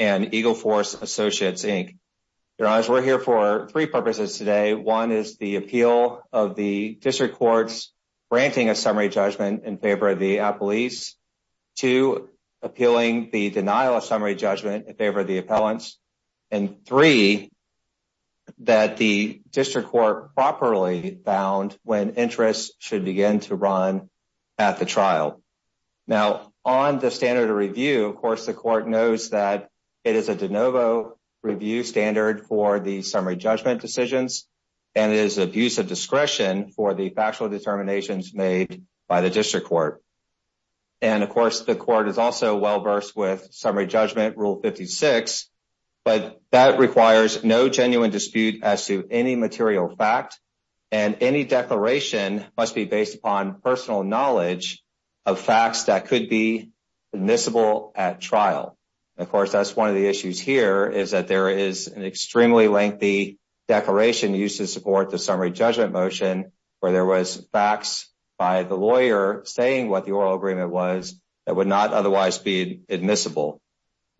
and Eagle Force Associates, Inc. We're here for three purposes today. One is the appeal of the district courts granting a summary judgment in favor of the appellees. Two, appealing the denial of summary judgment in favor of the appellants. in favor of the appellees. And four, that the district courts grant a summary judgment in favor of the appellants. And five, that the district court properly found when interest should begin to run at the trial. Now, on the standard of review, of course, the court knows that it is a de novo review standard for the summary judgment decisions, and it is abuse of discretion for the factual determinations made by the district court. And, of course, the court is also well-versed with summary judgment rule 56, but that requires no genuine dispute as to any material fact, and any declaration must be based upon personal knowledge of facts that could be admissible at trial. Of course, that's one of the issues here, is that there is an extremely lengthy declaration used to support the summary judgment motion, where there was facts by the lawyer saying what the oral agreement was, that would not otherwise be admissible.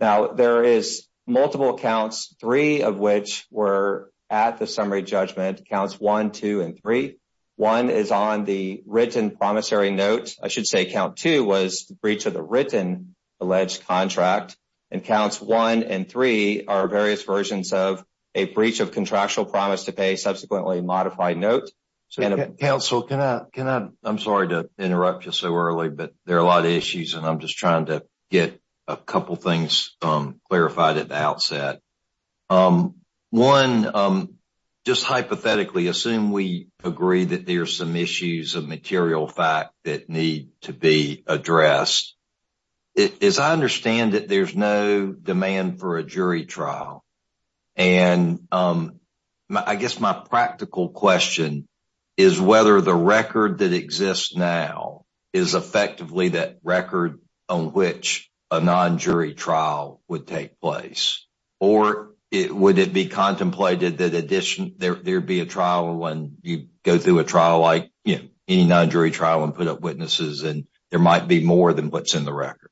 Now, there is multiple counts, three of which were at the summary judgment, counts one, two, and three. One is on the written promissory note, I should say count two was breach of the written alleged contract, and counts one and three are various versions of a breach of contractual promise to pay subsequently modified notes. I'm sorry to interrupt you so early, but there are a lot of issues, and I'm just trying to get a couple things clarified at the outset. One, just hypothetically, assume we agree that there are some issues of material fact that need to be addressed. I understand that there's no demand for a jury trial, and I guess my practical question is whether the record that exists now is effectively that record on which a non-jury trial would take place, or would it be contemplated that there'd be a trial when you go through a trial like any non-jury trial and put up witnesses and there might be more than what's in the record?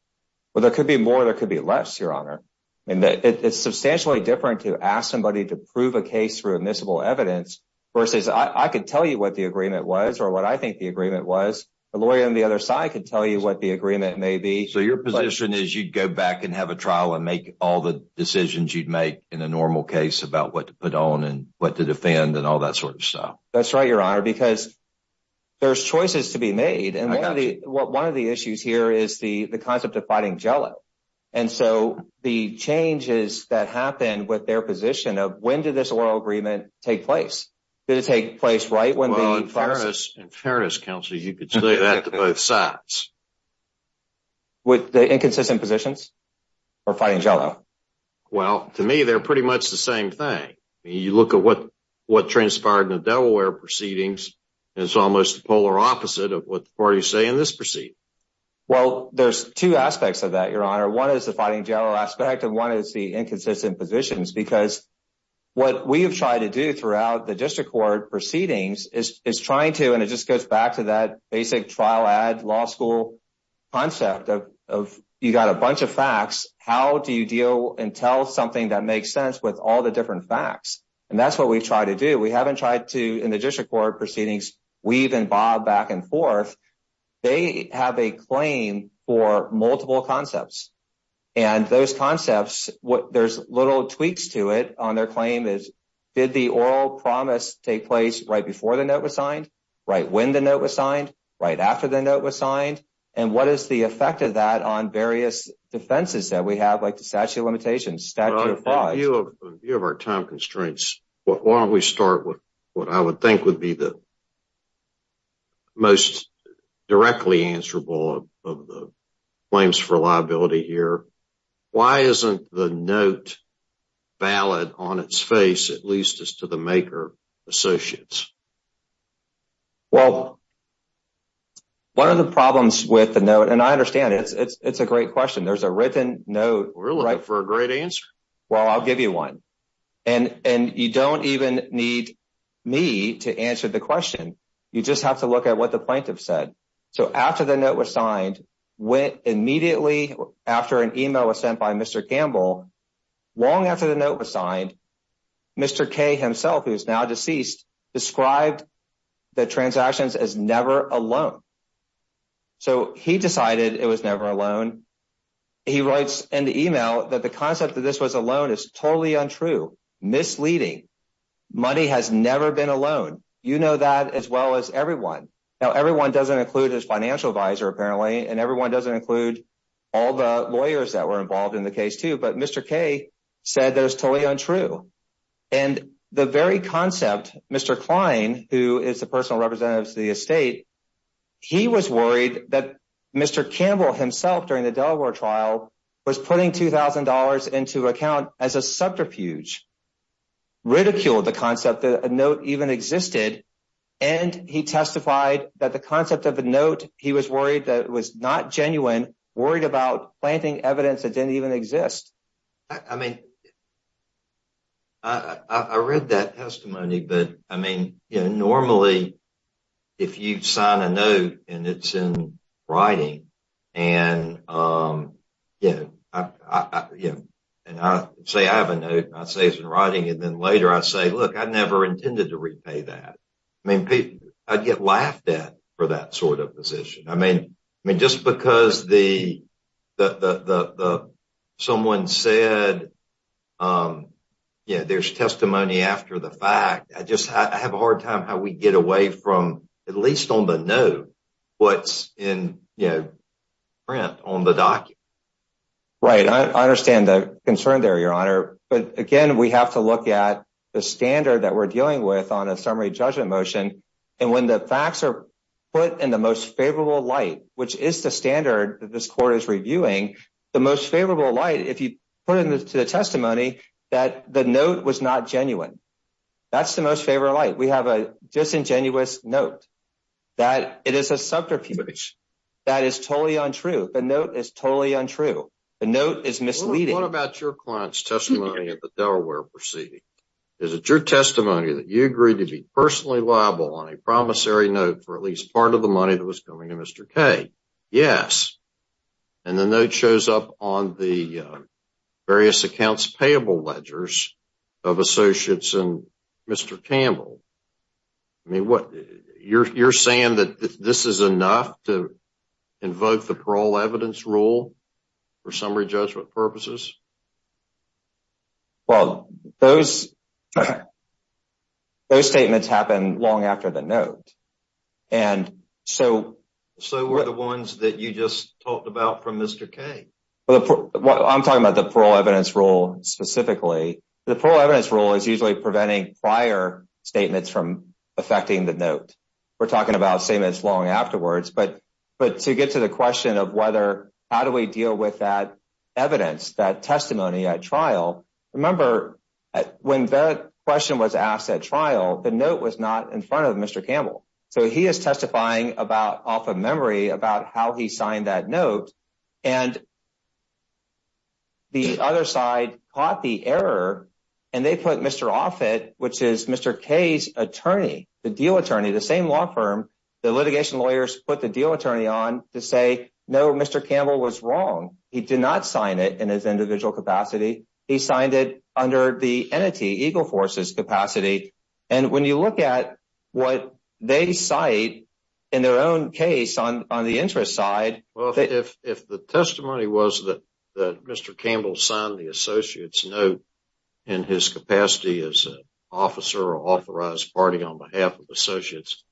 Well, there could be more, there could be less, Your Honor. It's substantially different to ask somebody to prove a case through admissible evidence versus I could tell you what the agreement was or what I think the agreement was. A lawyer on the other side could tell you what the agreement may be. So your position is you'd go back and have a trial and make all the decisions you'd make in a normal case about what to put on and what to defend and all that sort of stuff? That's right, Your Honor, because there's choices to be made, and one of the issues here is the concept of fighting jello, and so the changes that happen with their position of when did this oral agreement take place? Did it take place right when the... Well, in fairness, in fairness, Counselor, you could say that to both sides. With the inconsistent positions for fighting jello? Well, to me, they're pretty much the same thing. You look at what transpired in the Delaware proceedings and it's almost the polar opposite of what the parties say in this proceeding. Well, there's two aspects of that, Your Honor. One is the fighting jello aspect, and one is the inconsistent positions because what we have tried to do throughout the District Court proceedings is trying to, and it just goes back to that basic trial ad law school concept of you got a bunch of facts, how do you deal and tell something that makes sense with all the different facts? And that's what we've tried to do. We haven't tried to, in the District Court proceedings, weave and bob back and forth. They have a claim for multiple concepts, and those concepts, there's little tweaks to it on their claim is did the oral promise take place right before the note was signed, right when the note was signed, right after the note was signed, and what is the effect of that on various defenses that we have, like the statute of limitations, statute of laws? Well, in view of our time constraints, why don't we start with what I would think would be the most directly answerable of the claims for liability here. Why isn't the note valid on its face, at least as to the maker associates? Well, one of the problems with the note, and I understand it, it's a great question. There's a written note. Really? For a great answer? Well, I'll give you one. And you don't even need me to answer the question. You just have to look at what the plaintiff said. So after the note was signed, immediately after an email was sent by Mr. Gamble, long after the note was signed, Mr. K himself, who is now deceased, described the transactions as never a loan. So he decided it was never a loan. He writes in the email that the concept that this was a loan is totally untrue, misleading. Money has never been a loan. You know that as well as everyone. Now, everyone doesn't include his financial advisor apparently, and everyone doesn't include all the lawyers that were involved in the case too, but Mr. K said that it's totally untrue. And the very concept, Mr. Klein, who is the personal representative to the estate, he was worried that Mr. Gamble himself, during the Delaware trial, was putting $2,000 into account as a subterfuge, ridiculed the concept that a note even existed, and he testified that the concept of a note, he was worried that it was not genuine, worried about planting evidence that didn't even exist. I mean, I read that testimony, but I mean, normally if you sign a note and it's in writing and you know, and I say I have a note, and I say it's in writing, and then later I say, look, I never intended to repay that. I mean, I'd get laughed at for that sort of position. I mean, just because someone said there's testimony after the fact, I just have a hard time how we get away from, at least on the note, what's in the print, on the document. Right. I understand the concern there, Your Honor, but again, we have to look at the standard that we're dealing with on a summary judgment motion, and when the facts are put in the most favorable light, which is the standard that this court is reviewing, the most favorable light, if you put it into the testimony, that the note was not genuine. That's the most favorable light. We have a disingenuous note that it is a subterfuge. That is totally untrue. The note is totally untrue. The note is misleading. What about your client's testimony at the Delaware proceeding? Is it your testimony that you agreed to be personally liable on a promissory note for at least part of the money that was going to Mr. Kaye? Yes. And the note shows up on the various accounts payable ledgers of associates and Mr. Campbell. I mean, what are you saying that this is enough to invoke the parole evidence rule for summary judgment purposes? Well, those statements happen long after the note. So were the ones that you just talked about from Mr. Kaye? I'm talking about the parole evidence rule specifically. The parole evidence rule is usually preventing prior statements from affecting the note. We're talking about statements long afterwards, but to get to the question of whether how do we deal with that evidence, that testimony at trial, remember, when that question was asked at trial, the note was not in front of Mr. Campbell. So he is testifying off of memory about how he signed that note, and the other side caught the error and they put Mr. Offit, which is Mr. Kaye's attorney, the deal attorney, the same law firm, the litigation lawyers put the deal attorney on to say, no, Mr. Campbell was wrong. He did not sign it in his individual capacity. He signed it under the entity, Eagle Force's capacity, and when you look at what they cite in their own case on the interest side... Well, if the testimony was that Mr. Campbell signed the associate's note in his capacity as an officer or authorized party on behalf of associates,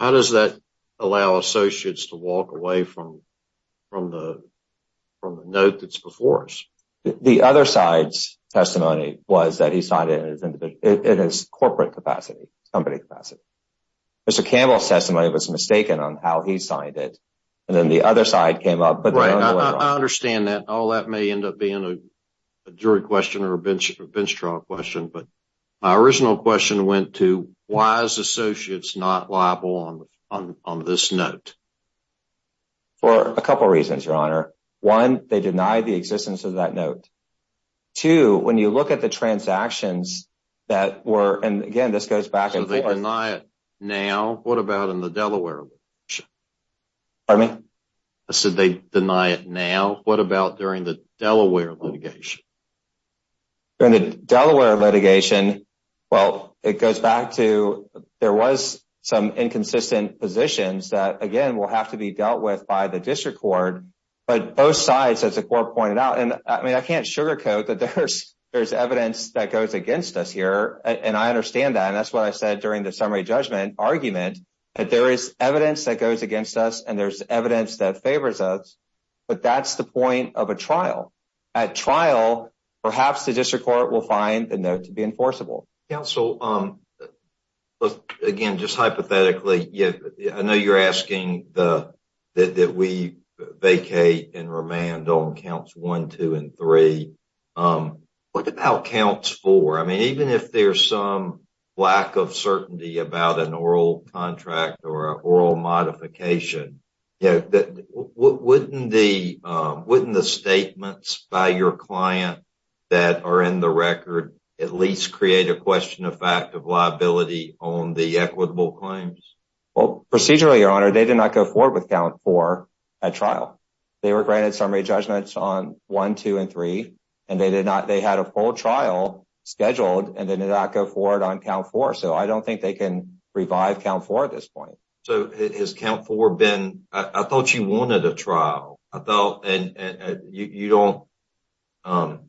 how does that allow associates to walk away from the note that's before us? The other side's testimony was that he signed it in his corporate capacity, company capacity. Mr. Campbell's testimony was mistaken on how he signed it, and then the other side came up... Right, I understand that. All that may end up being a jury question or a bench-draw question, but my original question went to, why is associates not liable on this note? For a couple reasons, Your Honor. One, they denied the existence of that note. Two, when you look at the transactions that were, and again, this goes back and forth... So they deny it now. What about in the Delaware? Pardon me? I said they deny it now. What about during the Delaware litigation? During the Delaware litigation, well, it goes back to there was some inconsistent positions that, again, will have to be dealt with by the District Court, but both sides, as the Court pointed out, and I can't sugarcoat that there's evidence that goes against us here, and I understand that, and that's what I said during the summary judgment argument, that there is evidence that goes against us, and there's evidence that goes against us at the point of a trial. At trial, perhaps the District Court will find the note to be enforceable. Counsel, again, just hypothetically, I know you're asking that we vacate and remand on Counts 1, 2, and 3. What about Counts 4? I mean, even if there's some lack of certainty about an oral contract or an oral modification, wouldn't the statements by your client that are in the record at least create a question of fact of liability on the equitable claims? Well, procedurally, Your Honor, they did not go forward with Count 4 at trial. They were granted summary judgments on 1, 2, and 3, and they had a full trial scheduled and did not go forward on Count 4, so I don't think they can revive Count 4 at this point. So, has Count 4 been... I thought you wanted a trial. I thought... You don't...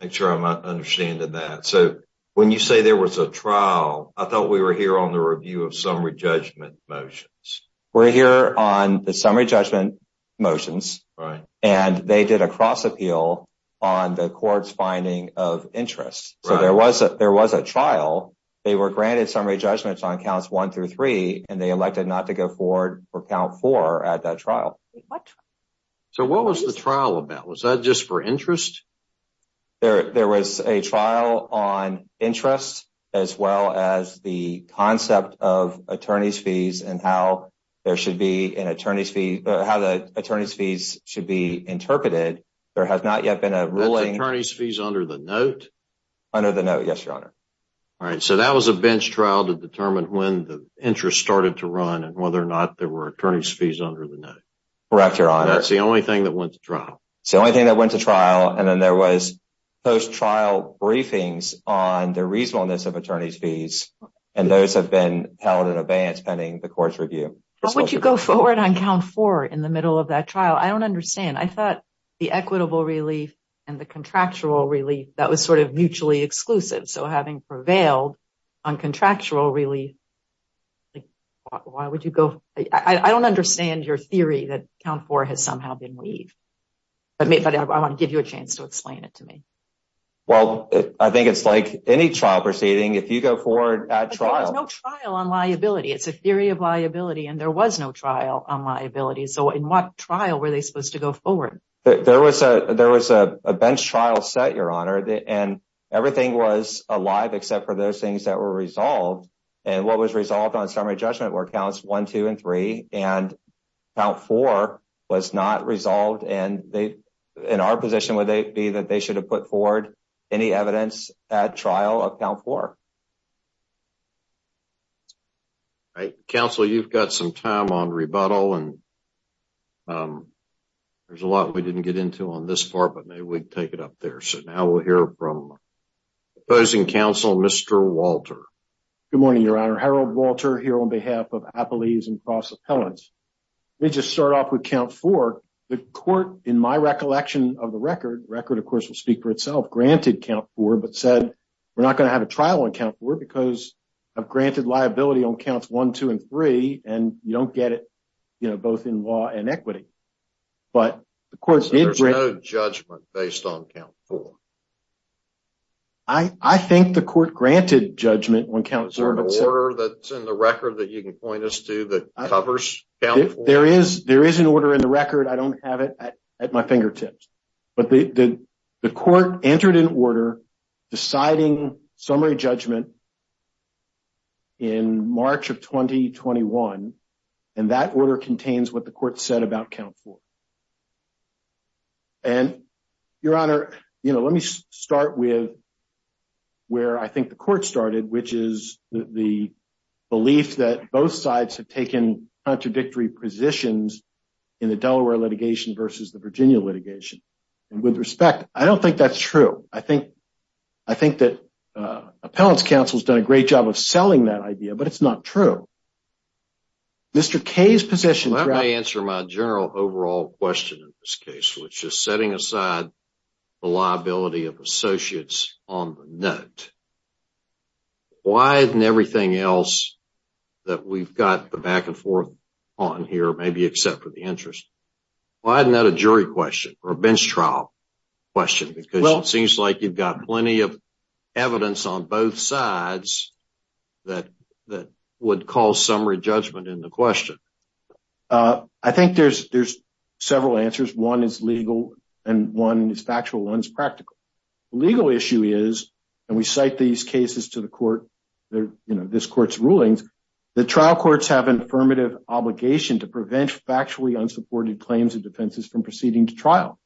Make sure I'm understanding that. So, when you say there was a trial, I thought we were here on the review of summary judgment motions. We're here on the summary judgment motions, and they did a cross-appeal on the court's finding of interest, so there was a trial. They were granted summary judgments on Counts 1 through 3, and they elected not to go forward for Count 4 at that trial. So, what was the trial about? Was that just for interest? There was a trial on interest as well as the concept of attorney's fees and how there should be an attorney's fee... how the attorney's fees should be interpreted. There has not yet been a ruling... That's attorney's fees under the note? Under the note, yes, Your Honor. All right, so that was a bench trial to determine when the interest started to run and whether or not there were attorney's fees under the note. Correct, Your Honor. That's the only thing that went to trial. It's the only thing that went to trial, and then there was post-trial briefings on the reasonableness of attorney's fees, and those have been held in abeyance pending the court's review. But would you go forward on Count 4 in the middle of that trial? I don't understand. I thought the equitable relief and the contractual relief, that was sort of mutually exclusive, so having prevailed on contractual relief, why would you go... I don't understand your theory that Count 4 has somehow been waived. I want to give you a chance to explain it to me. Well, I think it's like any trial proceeding. If you go forward at trial... There was no trial on liability. It's a theory of liability, and there was no trial on liability. So in what trial were they supposed to go forward? There was a bench trial set, Your Honor, and everything was alive except for those things that were resolved. And what was resolved on summary judgment were Counts 1, 2, and 3, and Count 4 was not resolved, and our position would be that they should have put forward any evidence at trial of Count 4. Council, you've got some time on rebuttal, and there's a lot we need to take it up there. So now we'll hear from the opposing counsel, Mr. Walter. Good morning, Your Honor. Harold Walter here on behalf of Appelese & Cross Appellants. Let me just start off with Count 4. The court, in my recollection of the record, the record of course will speak for itself, granted Count 4 but said, we're not going to have a trial on Count 4 because of granted liability on Counts 1, 2, and 3, and you don't get it, you know, both in law and equity. So there's no judgment based on Count 4? I think the court granted judgment on Count 4. Is there an order that's in the record that you can point us to that covers Count 4? There is an order in the record. I don't have it at my fingertips, but the court entered an order deciding summary judgment in March of 2021, and that order contains what the court said about Count 4. And Your Honor, you know, let me start with where I think the court started, which is the belief that both sides have taken contradictory positions in the Delaware litigation versus the Virginia litigation. And with respect, I don't think that's true. I think that Appellants Council's done a great job of selling that idea, but it's not true. Mr. Kaye's position. I may answer my general overall question in this case, which is setting aside the liability of associates on the note. Why isn't everything else that we've got the back and forth on here maybe except for the interest? Why isn't that a jury question or a bench trial question? Because it seems like you've got plenty of evidence on both sides that would call summary judgment in the question. I think there's several answers. One is legal and one is factual. One is practical. The legal issue is, and we cite these cases to the court, this court's rulings, that trial courts have an affirmative obligation to prevent factually unsupported claims of defenses from proceeding to trial.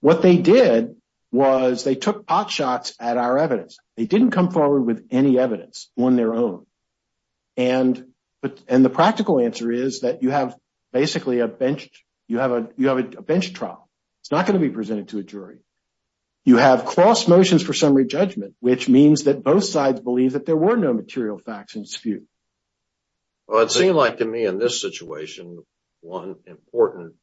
What they did was they took pot shots at our evidence. They didn't come forward with any evidence on their own. The practical answer is that you have basically a bench trial. It's not going to be presented to a jury. You have cross motions for summary judgment, which means that both sides believe that there were no material facts in dispute. one important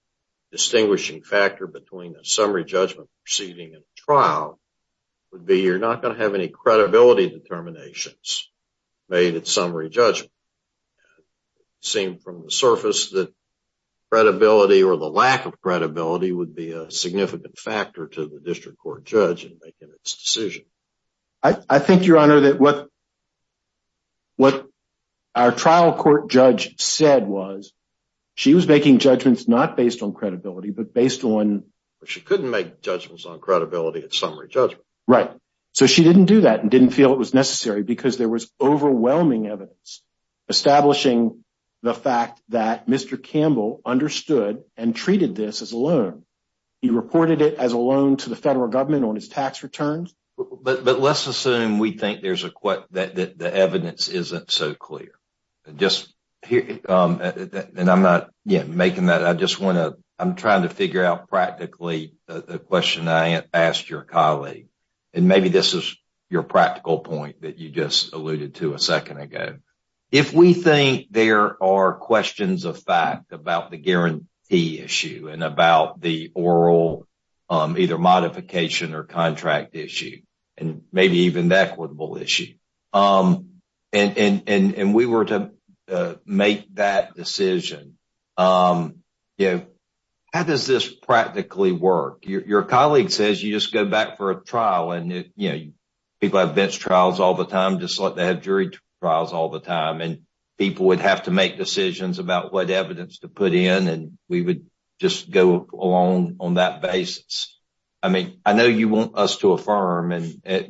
distinguishing factor between a summary judgment proceeding and a trial would be you're not going to have any credibility determinations made at summary judgment. It would seem from the surface that credibility or the lack of credibility would be a significant factor to the district court judge in making its decision. I think, Your Honor, that what our trial court judge said was she was making judgments not based on credibility but based on... So she didn't do that and didn't feel it was necessary because there was overwhelming evidence establishing the fact that Mr. Campbell understood and treated this as a loan. He reported it as a loan to the federal government on his tax returns. But let's assume we think the evidence isn't so clear. I'm trying to figure out practically the question I asked your colleague and maybe this is your practical point that you just alluded to a second ago. If we think there are questions of fact about the guarantee issue and about the oral either modification or contract issue and maybe even the equitable issue and we were to make that decision, how does this practically work? Your colleague says you just go back for a trial and people have bench trials all the time just like they have jury trials all the time and people would have to make decisions about what evidence to put in and we would just go along on that basis. I mean, I know you want us to affirm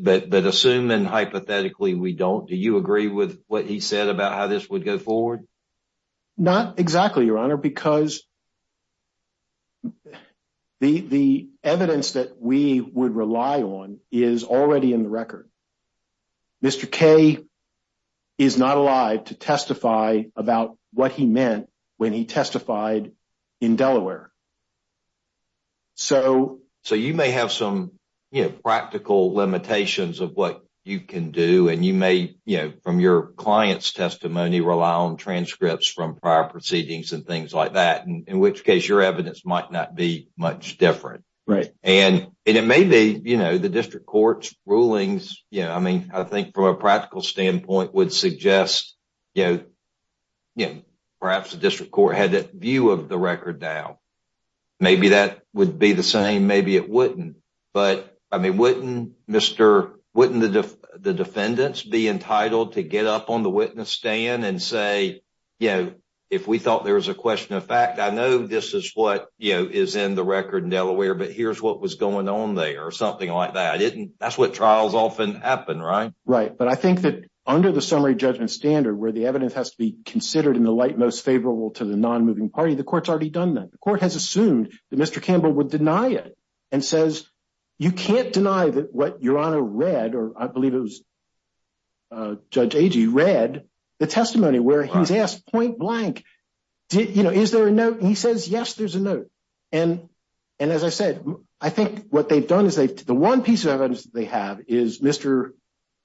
but assuming hypothetically we don't, do you agree with what he said about how this would go forward? Not exactly, Your Honor, because the evidence that we would rely on is already in the record. Mr. K is not alive to testify about what he meant when he testified in Delaware. So you may have some practical limitations of what you can do and you may from your client's testimony rely on transcripts from prior proceedings and things like that, in which case your evidence might not be much different. Maybe the district court's rulings, I mean, I think from a practical standpoint would suggest perhaps the district court had that view of the record down. Maybe that would be the same, maybe it wouldn't, but wouldn't the defendants be entitled to get up on the witness stand and say, you know, if we thought there was a question of fact, I know this is what is in the record in Delaware, but here's what was going on there, or something like that. That's what trials often happen, right? Right, but I think that under the summary judgment standard where the evidence has to be considered in the light most favorable to the non-moving party, the court's already done that. The court has assumed that Mr. Campbell would deny it and says you can't deny that what Your Honor read, or I think Judge Agee read, the testimony where he's asked point blank is there a note? He says yes, there's a note. As I said, I think what they've done is the one piece of evidence that they have is Mr.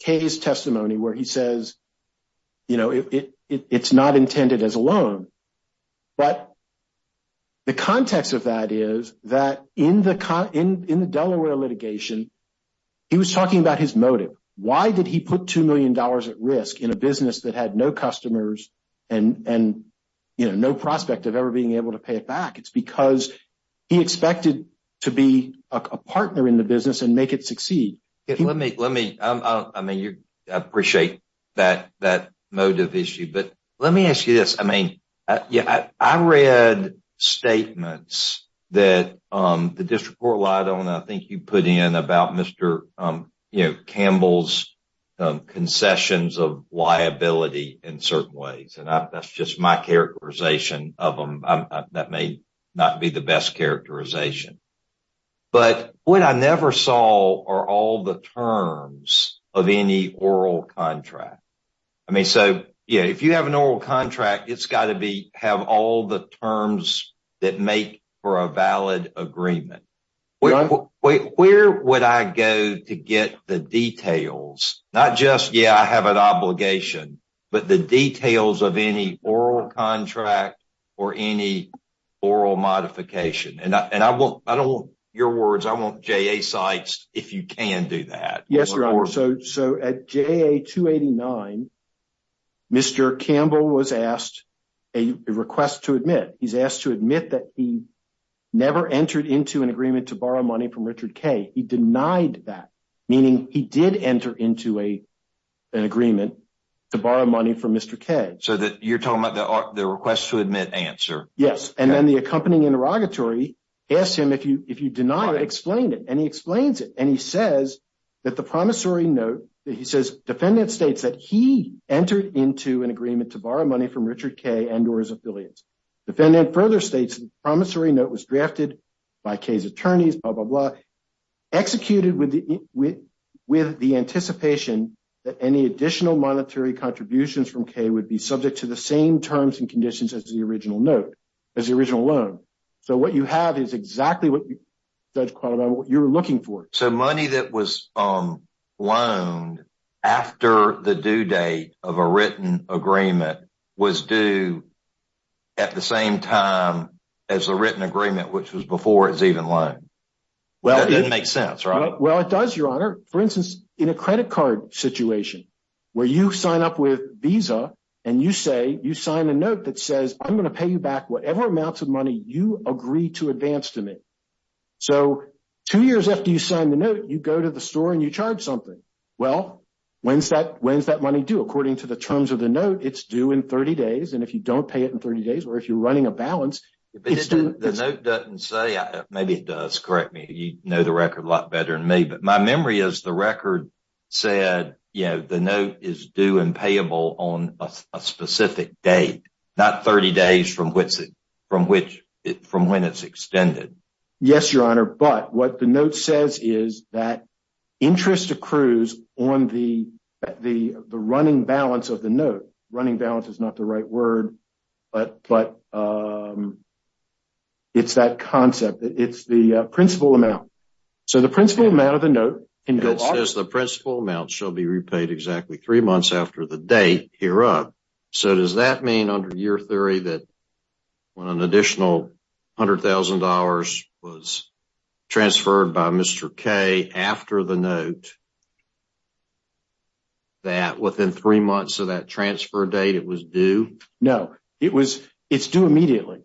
Kaye's testimony where he says it's not intended as a loan, but the context of that is that in the Delaware litigation he was talking about his motive. Why did he put $2 million at risk in a business that had no customers and no prospect of ever being able to pay it back? It's because he expected to be a partner in the business and make it succeed. I appreciate that motive issue, but let me ask you this. I read statements that the District Court relied on, I think you put in, about Mr. Campbell's concessions of liability in certain ways. That's just my characterization of them. That may not be the best characterization. What I never saw are all the terms of any oral contract. If you have an oral contract, it's got to have all the terms that make for a valid agreement. Where would I go to get the details, not just I have an obligation, but the details of any oral contract or any oral modification? I don't want your words, I want JA sites if you can do that. Yes, Your Honor. At JA 289, Mr. Campbell was asked a request to admit that he never entered into an agreement to borrow money from Richard K. He denied that, meaning he did enter into an agreement to borrow money from Mr. K. You're talking about the request to admit answer. Yes, and then the accompanying interrogatory asked him if he denied it, explained it, and he explains it. He says that the promissory note that he says defendant states that he entered into an agreement to borrow money from Richard K. and or his affiliates. The defendant further states that the promissory note was drafted by K's attorneys, blah, blah, blah, executed with the anticipation that any additional monetary contributions from K would be subject to the same terms and conditions as the original note, as the original loan. So what you have is exactly what you were looking for. So money that was loaned after the due date of a written agreement was due at the same time as the written agreement, which was before it was even loaned. That doesn't make sense, right? Well, it does, Your Honor. For instance, in a credit card situation where you sign up with Visa and you say, you sign a note that says, I'm going to pay you back whatever amounts of money you agree to advance to me. So two years after you sign the note, you go to the store and you charge something. Well, when's that money due? According to the terms of the note, it's due in 30 days. And if you don't pay it in 30 days or if you're running a balance, it's due. The note doesn't say, maybe it does, correct me. You know the record a lot better than me. But my memory is the record said, you know, the note is due and payable on a specific date, not 30 days from when it's extended. Yes, Your Honor. But what the note says is that interest accrues on the running balance of the note. Running balance is not the right word, but it's that concept. It's the principal amount. So the principal amount of the note... It says the principal amount shall be repaid exactly three months after the date, hereup. So does that mean, under your theory, that when an additional $100,000 was transferred by Mr. K after the note, that within three months of that transfer date, it was due? No. It was... It's due immediately.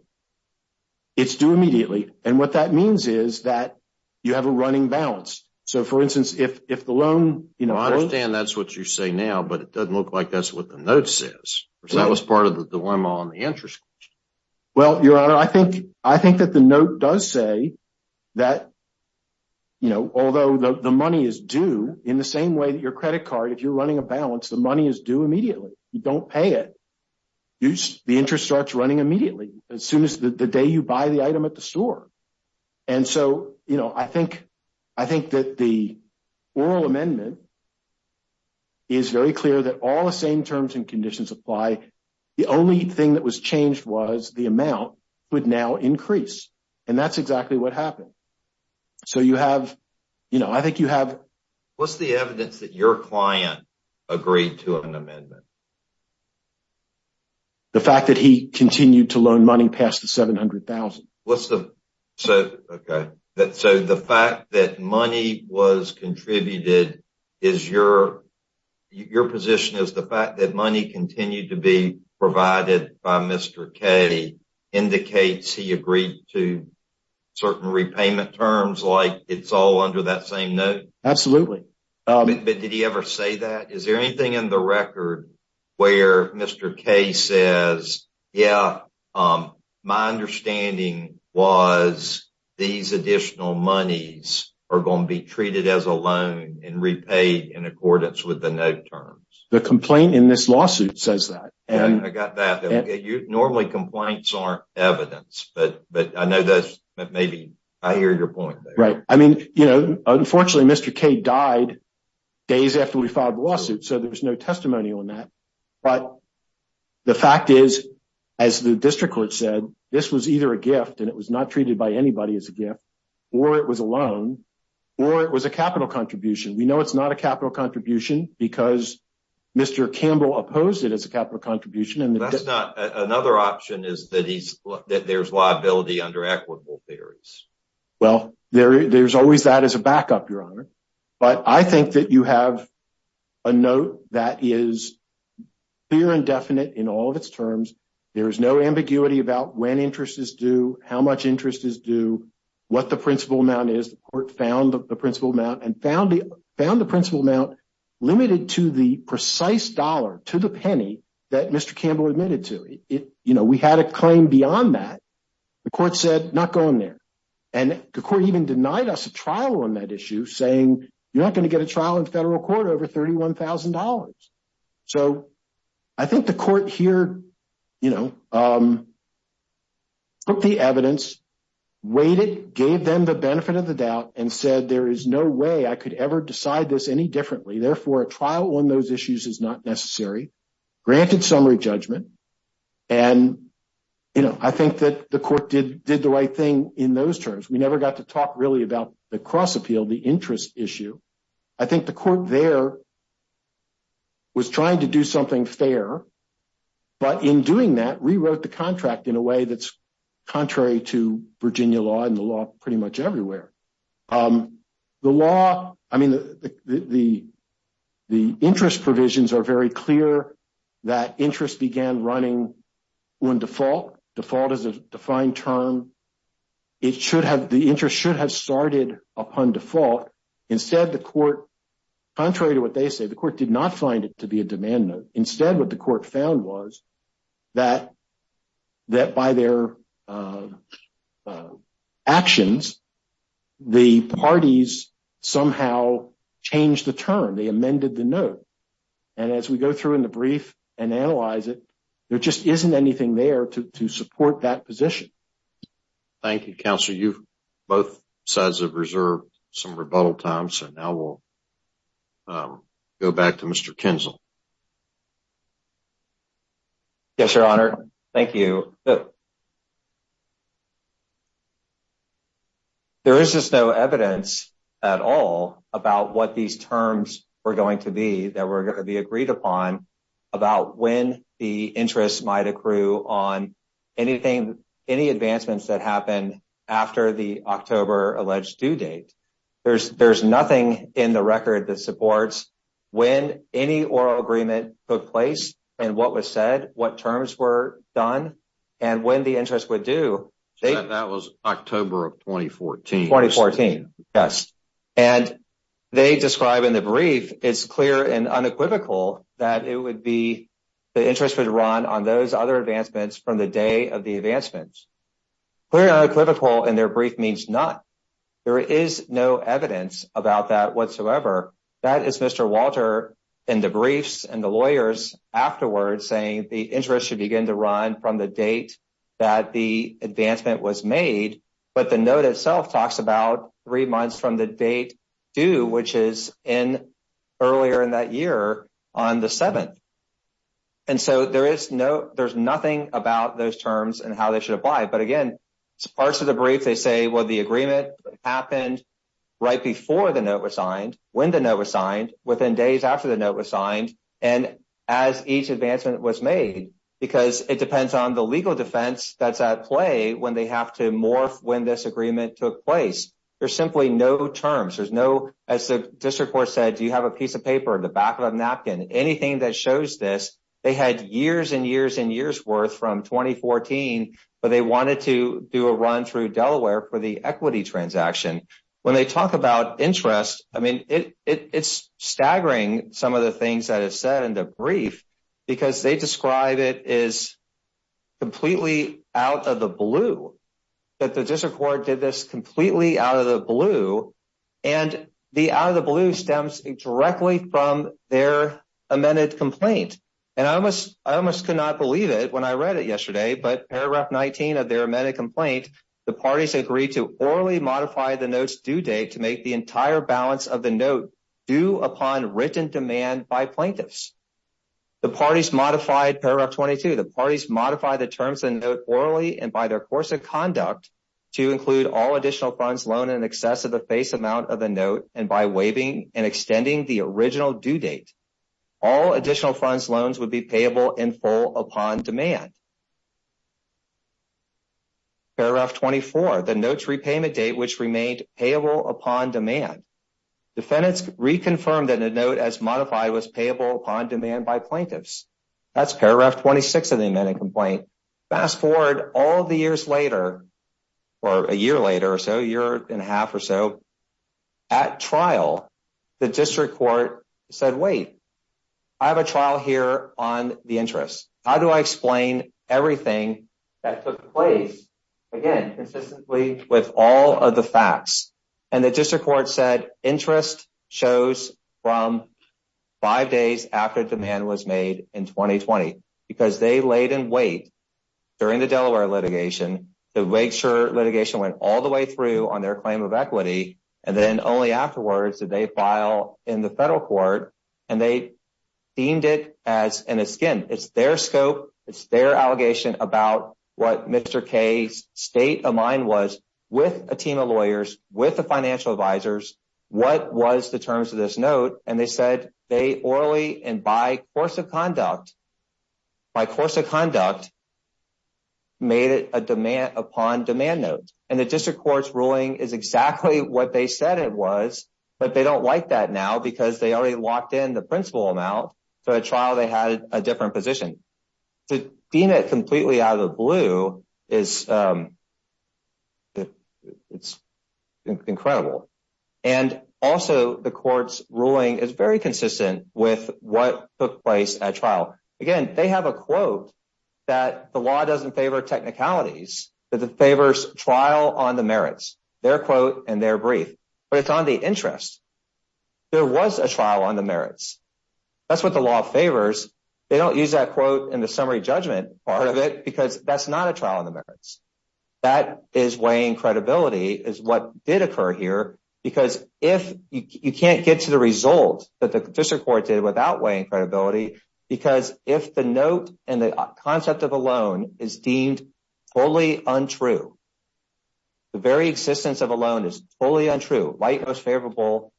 It's due immediately. And what that means is that you have a running balance. So for instance, if the loan... I understand that's what you say now, but it doesn't look like that's what the note says. That was part of the dilemma on the interest question. Well, Your Honor, I think that the note does say that although the money is due, in the same way that your credit card, if you're running a balance, the money is due immediately. You don't pay it. The interest starts running immediately, as soon as the day you buy the item at the store. And so I think that the oral amendment is very clear that all the same terms and conditions apply. The only thing that was changed was the amount would now increase. And that's exactly what happened. So you have... I think you have... What's the evidence that your client agreed to an amendment? The fact that he continued to loan money past the $700,000. What's the... Okay. So the fact that money was contributed is your... Your position is the fact that money continued to be provided by Mr. K indicates he agreed to certain repayment terms, like it's all under that same note? Absolutely. But did he ever say that? Is there anything in the record where Mr. K says yeah, my understanding was these additional monies are going to be treated as a loan and repaid in accordance with the note terms? The complaint in this lawsuit says that. I got that. Normally complaints aren't evidence. But I know that maybe... I hear your point there. Unfortunately, Mr. K died days after we filed the lawsuit so there's no testimony on that. But the fact is as the district court said this was either a gift and it was not treated by anybody as a gift or it was a loan or it was a capital contribution. We know it's not a capital contribution because Mr. Campbell opposed it as a capital contribution. Another option is that there's liability under equitable theories. Well, there's always that as a backup, Your Honor. But I think that you have a note that is clear and definite in all of its terms. There's no ambiguity about when interest is due, how much interest is due, what the principal amount is. The court found the principal amount and found the principal amount limited to the precise dollar, to the penny that Mr. Campbell admitted to. We had a claim beyond that. The court said not going there. And the court even denied us a trial on that issue saying you're not going to get a trial in federal court over $31,000. So, I think the court here took the evidence, waited, gave them the benefit of the doubt, and said there is no way I could ever decide this any differently. Therefore, a trial on those issues is not necessary, granted summary judgment, and I think that the court did the right thing in those terms. We never got to talk really about the cross appeal, the interest issue. I think the court there was trying to do something fair, but in doing that, rewrote the contract in a way that's contrary to Virginia law and the law pretty much everywhere. The law, the interest provisions are very clear that interest began running on default. Default is a defined term. The interest should have started upon default. Instead, the court, contrary to what they say, the court did not find it to be a demand note. Instead, what the court found was that by their actions, the parties somehow changed the term. They amended the note, and as we go through in the brief and analyze it, there just isn't anything there to support that position. Thank you, Counselor. You both sides have reserved some rebuttal time, so now we'll go back to Mr. Kinzel. Yes, Your Honor. Thank you. There is just no evidence at all about what these terms were going to be that were going to be agreed upon about when the interest might accrue on any advancements that happen after the October alleged due date. There's nothing in the record that supports when any oral agreement took place and what was said, what terms were done, and when the interest would do. That was October 2014. Yes. And they describe in the brief, it's clear and unequivocal that it would be the interest would run on those other advancements from the day of the advancements. Clear and unequivocal in their brief means not. There is no evidence about that whatsoever. That is Mr. Walter in the briefs and the lawyers afterwards saying the interest should begin to run from the date that the advancement was made, but the note itself talks about three months from the date due, which is in earlier in that year on the 7th. And so there is nothing about those terms and how they should apply. But again, parts of the brief, they say, well, the agreement happened right before the note was signed, when the note was signed, within days after the note was signed, and as each advancement was made, because it depends on the legal defense that's at play when they have to morph when this agreement took place. There's simply no terms. There's no, as the district court said, do you have a piece of paper in the back of a napkin? Anything that shows this, they had years and years and years worth from 2014, but they wanted to do a run through Delaware for the equity transaction. When they talk about interest, I mean, it's staggering some of the things that are said in the brief, because they describe it as completely out of the blue, that the district court did this completely out of the blue, and the out of the blue stems directly from their amended complaint. And I almost could not believe it when I read it yesterday, but paragraph 19 of their amended complaint, the parties agreed to orally modify the note's due date to make the entire balance of the note due upon written demand by plaintiffs. The parties modified paragraph 22, the parties modified the terms of the note orally and by their course of conduct to include all additional funds loaned in excess of the face amount of the note, and by waiving and extending the original due date, all additional funds loans would be payable in full upon demand. Paragraph 24, the note's repayment date, which remained payable upon demand. Defendants reconfirmed that the note as modified was payable upon demand by plaintiffs. That's paragraph 26 of the amended complaint. Fast forward all the years later, or a year later or so, a year and a half or so, at trial, the district court said, wait, I have a trial here on the interest. How do I explain everything that took place, again, consistently with all of the that interest shows from five days after demand was made in 2020? Because they laid in wait during the Delaware litigation to make sure litigation went all the way through on their claim of equity and then only afterwards did they file in the federal court and they deemed it as, and again, it's their scope, it's their allegation about what Mr. Kaye's state of mind was with a team of lawyers, with the financial advisors, what was the terms of this note, and they said they orally and by course of conduct by course of conduct made it a demand upon demand note. And the district court's ruling is exactly what they said it was, but they don't like that now because they already locked in the principal amount, so at trial they had a different position. To deem it completely out of the blue is it's incredible. And also the court's ruling is very consistent with what took place at trial. Again, they have a quote that the law doesn't favor technicalities, that it favors trial on the merits. Their quote and their brief, but it's on the interest. There was a trial on the merits. That's what the law favors. They don't use that quote in the summary judgment part of it because that's not a trial on the merits. That is weighing credibility is what did occur here because if you can't get to the result that the district court did without weighing credibility because if the note and the concept of a loan is deemed fully untrue, the very existence of a loan is fully untrue, rightmost favorable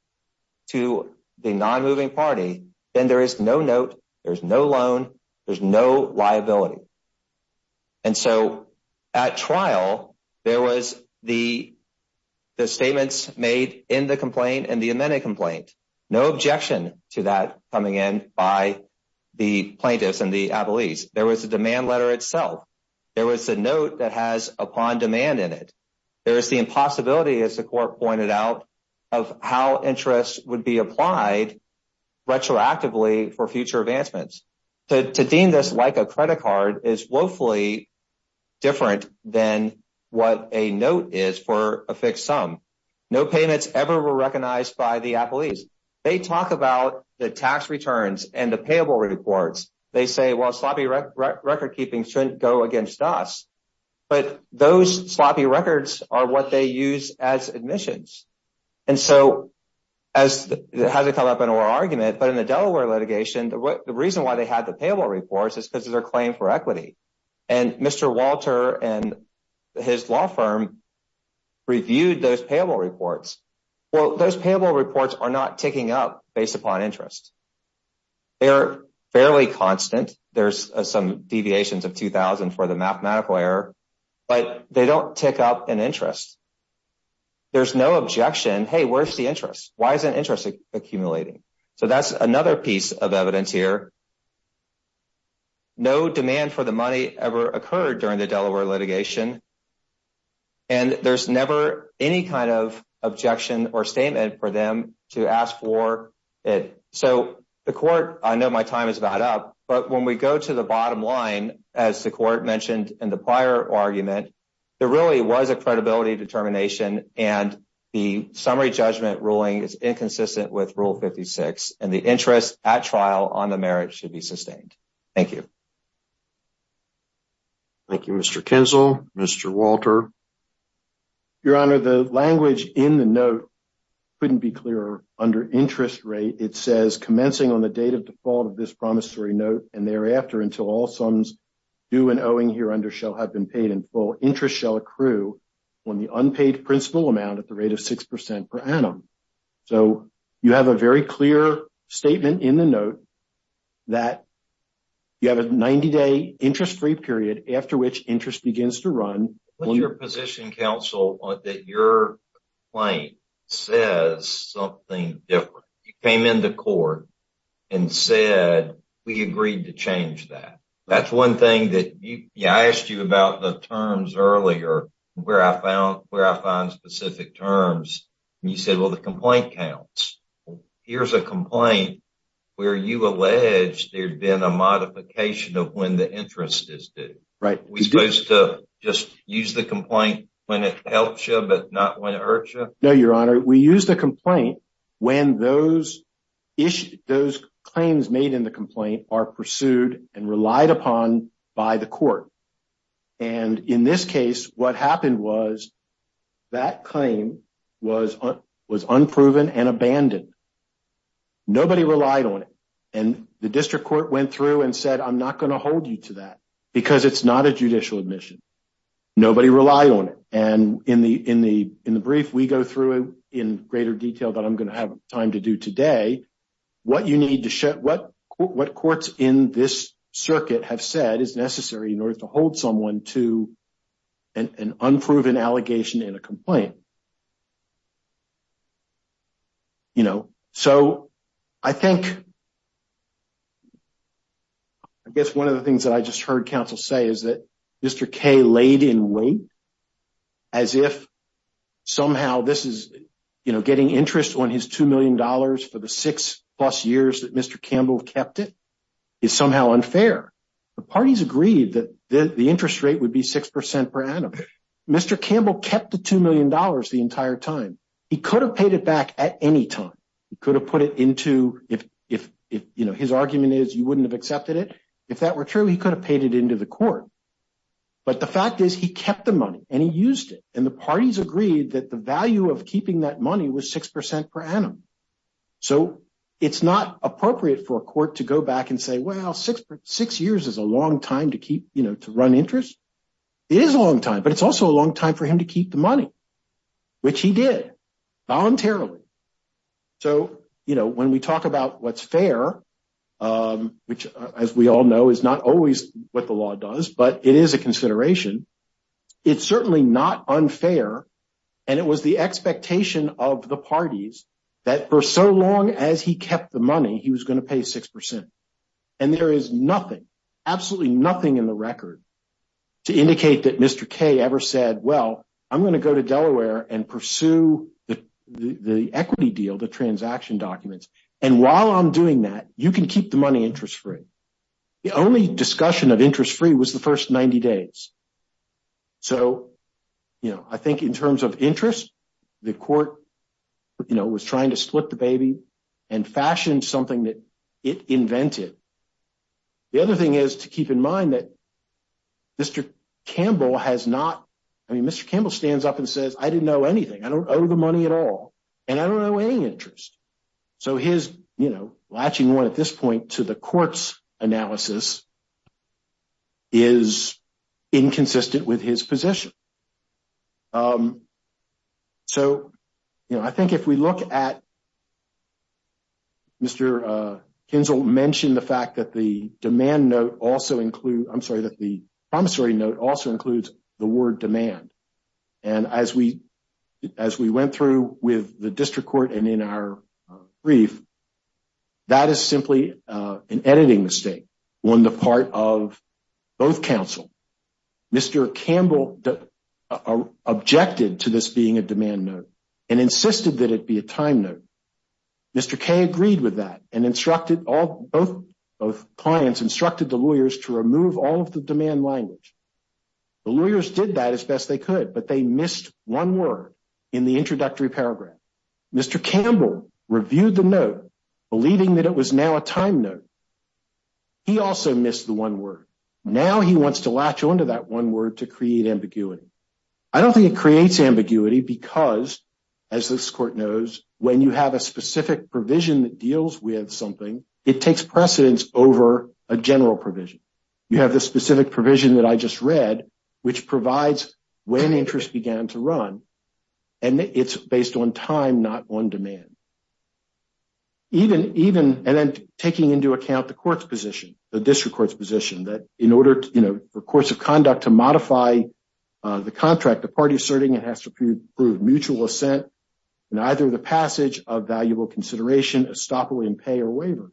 to the non-moving party, then there is no note, there's no loan, there's no liability. At trial, there was the statements made in the complaint and the amended complaint. No objection to that coming in by the plaintiffs and the appellees. There was a demand letter itself. There was a note that has upon demand in it. There is the impossibility, as the court pointed out, of how interest would be applied retroactively for future advancements. To deem this like a credit card is woefully different than what a note is for a fixed sum. No payments ever were recognized by the appellees. They talk about the tax returns and the payable reports. They say, well, sloppy record keeping shouldn't go against us, but those sloppy records are what they use as admissions. And so, it hasn't come up in our argument, but in the case where they had the payable reports, it's because of their claim for equity. And Mr. Walter and his law firm reviewed those payable reports. Well, those payable reports are not ticking up based upon interest. They are fairly constant. There's some deviations of 2,000 for the mathematical error, but they don't tick up in interest. There's no objection. Hey, where's the interest? Why isn't interest accumulating? So, that's another piece of evidence here. No demand for the money ever occurred during the Delaware litigation, and there's never any kind of objection or statement for them to ask for it. So, the court, I know my time is about up, but when we go to the bottom line, as the court mentioned in the prior argument, there really was a credibility determination, and the summary judgment ruling is inconsistent with Rule 56, and the interest at trial on the merit should be sustained. Thank you. Thank you, Mr. Kinzel. Mr. Walter. Your Honor, the language in the note couldn't be clearer. Under interest rate, it says, commencing on the date of default of this promissory note and thereafter until all sums due and owing here under shall have been paid in full, interest shall accrue on the unpaid principal amount at a rate of 6% per annum. So, you have a very clear statement in the note that you have a 90-day interest-free period after which interest begins to run. What's your position, counsel, that your claim says something different? You came into court and said, we agreed to change that. That's one thing that I asked you about the terms earlier, where I find specific terms. You said, well, the complaint counts. Here's a complaint where you allege there's been a modification of when the interest is due. We're supposed to just use the complaint when it helps you but not when it hurts you? No, Your Honor. We use the complaint when those claims made in the complaint are pursued and relied upon by the court. In this case, what happened was that claim was unproven and abandoned. Nobody relied on it. The district court went through and said, I'm not going to hold you to that because it's not a judicial admission. Nobody relied on it. In the brief, we go through in greater detail that I'm going to have time to do today what you need to show. What courts in this to hold someone to an unproven allegation in a complaint. I guess one of the things that I just heard counsel say is that Mr. Kaye laid in wait as if somehow this is getting interest on his $2 million for the six plus years that Mr. Campbell kept it is somehow unfair. The parties agreed that the interest rate would be 6% per annum. Mr. Campbell kept the $2 million the entire time. He could have paid it back at any time. He could have put it into if his argument is you wouldn't have accepted it. If that were true, he could have paid it into the court. The fact is he kept the money and he used it. The parties agreed that the value of keeping that money was 6% per annum. It's not appropriate for a court to go back and say, well, six years is a long time to run interest. It is a long time, but it's also a long time for him to keep the money, which he did voluntarily. When we talk about what's fair, which as we all know is not always what the law does, but it is a consideration. It's certainly not unfair and it was the expectation of the parties that for so long, he was going to pay 6%. There is nothing, absolutely nothing in the record to indicate that Mr. Kaye ever said, well, I'm going to go to Delaware and pursue the equity deal, the transaction documents. While I'm doing that, you can keep the money interest-free. The only discussion of interest-free was the first 90 days. I think in terms of interest, the court was trying to split the baby and fashion something that it invented. The other thing is to keep in mind that Mr. Campbell has not, Mr. Campbell stands up and says, I didn't know anything, I don't owe the money at all, and I don't owe any interest. His latching on at this point to the court's analysis is inconsistent with his position. I think if we look at Mr. Kinzel mentioned the fact that the demand note also includes, I'm sorry, that the promissory note also includes the word demand. As we went through with the district court and in our brief, that is simply an editing mistake on the part of both counsel. Mr. Campbell objected to this being a demand note and insisted that it be a time note. Mr. K agreed with that and instructed both clients, instructed the lawyers to remove all of the demand language. The lawyers did that as best they could, but they missed one word in the introductory paragraph. Mr. Campbell reviewed the note believing that it was now a time note. He also missed the one word. Now he wants to latch onto that one word to create ambiguity. I don't think it creates ambiguity because, as this court knows, when you have a specific provision that deals with something, it takes precedence over a general provision. You have the specific provision that I just read, which provides when interest began to run and it's based on time, not on demand. Even taking into account the court's position, the district court's position that in order for courts of conduct to modify the contract, the party asserting it has to prove mutual assent in either the passage of valuable consideration, estoppel in pay or waiver.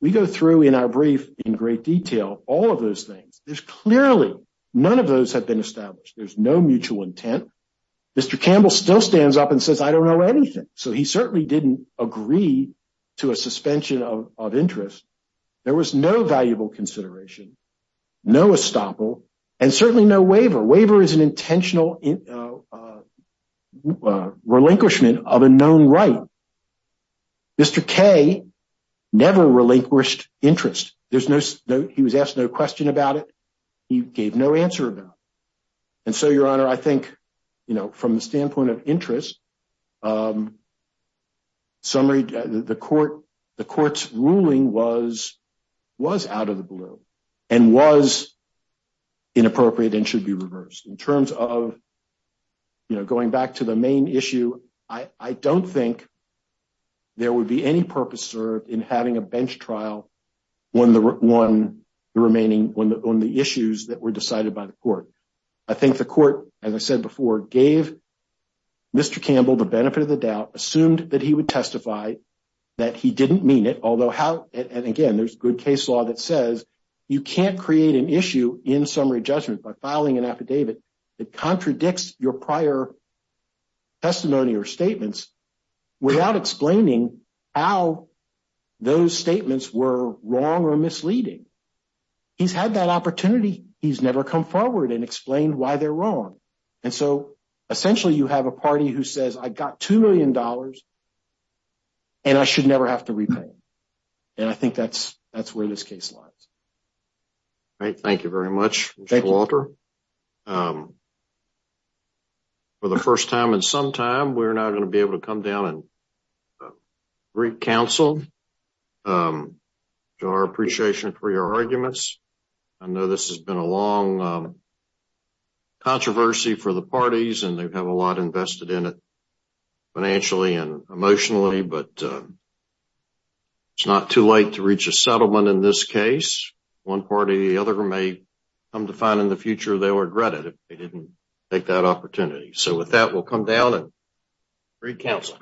We go through in our brief in great detail all of those things. Clearly, none of those have been established. There's no mutual intent. Mr. Campbell still stands up and he certainly didn't agree to a suspension of interest. There was no valuable consideration, no estoppel, and certainly no waiver. Waiver is an intentional relinquishment of a known right. Mr. Kay never relinquished interest. He was asked no question about it. He gave no answer about it. Your Honor, I think from the standpoint of summary, the court's ruling was out of the blue and was inappropriate and should be reversed. In terms of going back to the main issue, I don't think there would be any purpose served in having a bench trial on the remaining issues that were decided by the court. I think the court, as I said before, gave Mr. Campbell the benefit of the doubt, assumed that he would testify that he didn't mean it, although again, there's good case law that says you can't create an issue in summary judgment by filing an affidavit that contradicts your prior testimony or statements without explaining how those statements were wrong or misleading. He's had that opportunity. He's never come forward and explained why they're wrong. Essentially, you have a party who says, I got $2 million and I should never have to repay them. I think that's where this case lies. Thank you very much, Mr. Walter. For the first time in some time, we're now going to be able to come down and greet counsel to our appreciation for your arguments. I know this has been a long controversy for the parties and they have a lot invested in it financially and emotionally, but it's not too late to reach a settlement in this case. One party or the other may come to find in the future they'll regret it if they didn't take that opportunity. With that, we'll come down and greet counsel.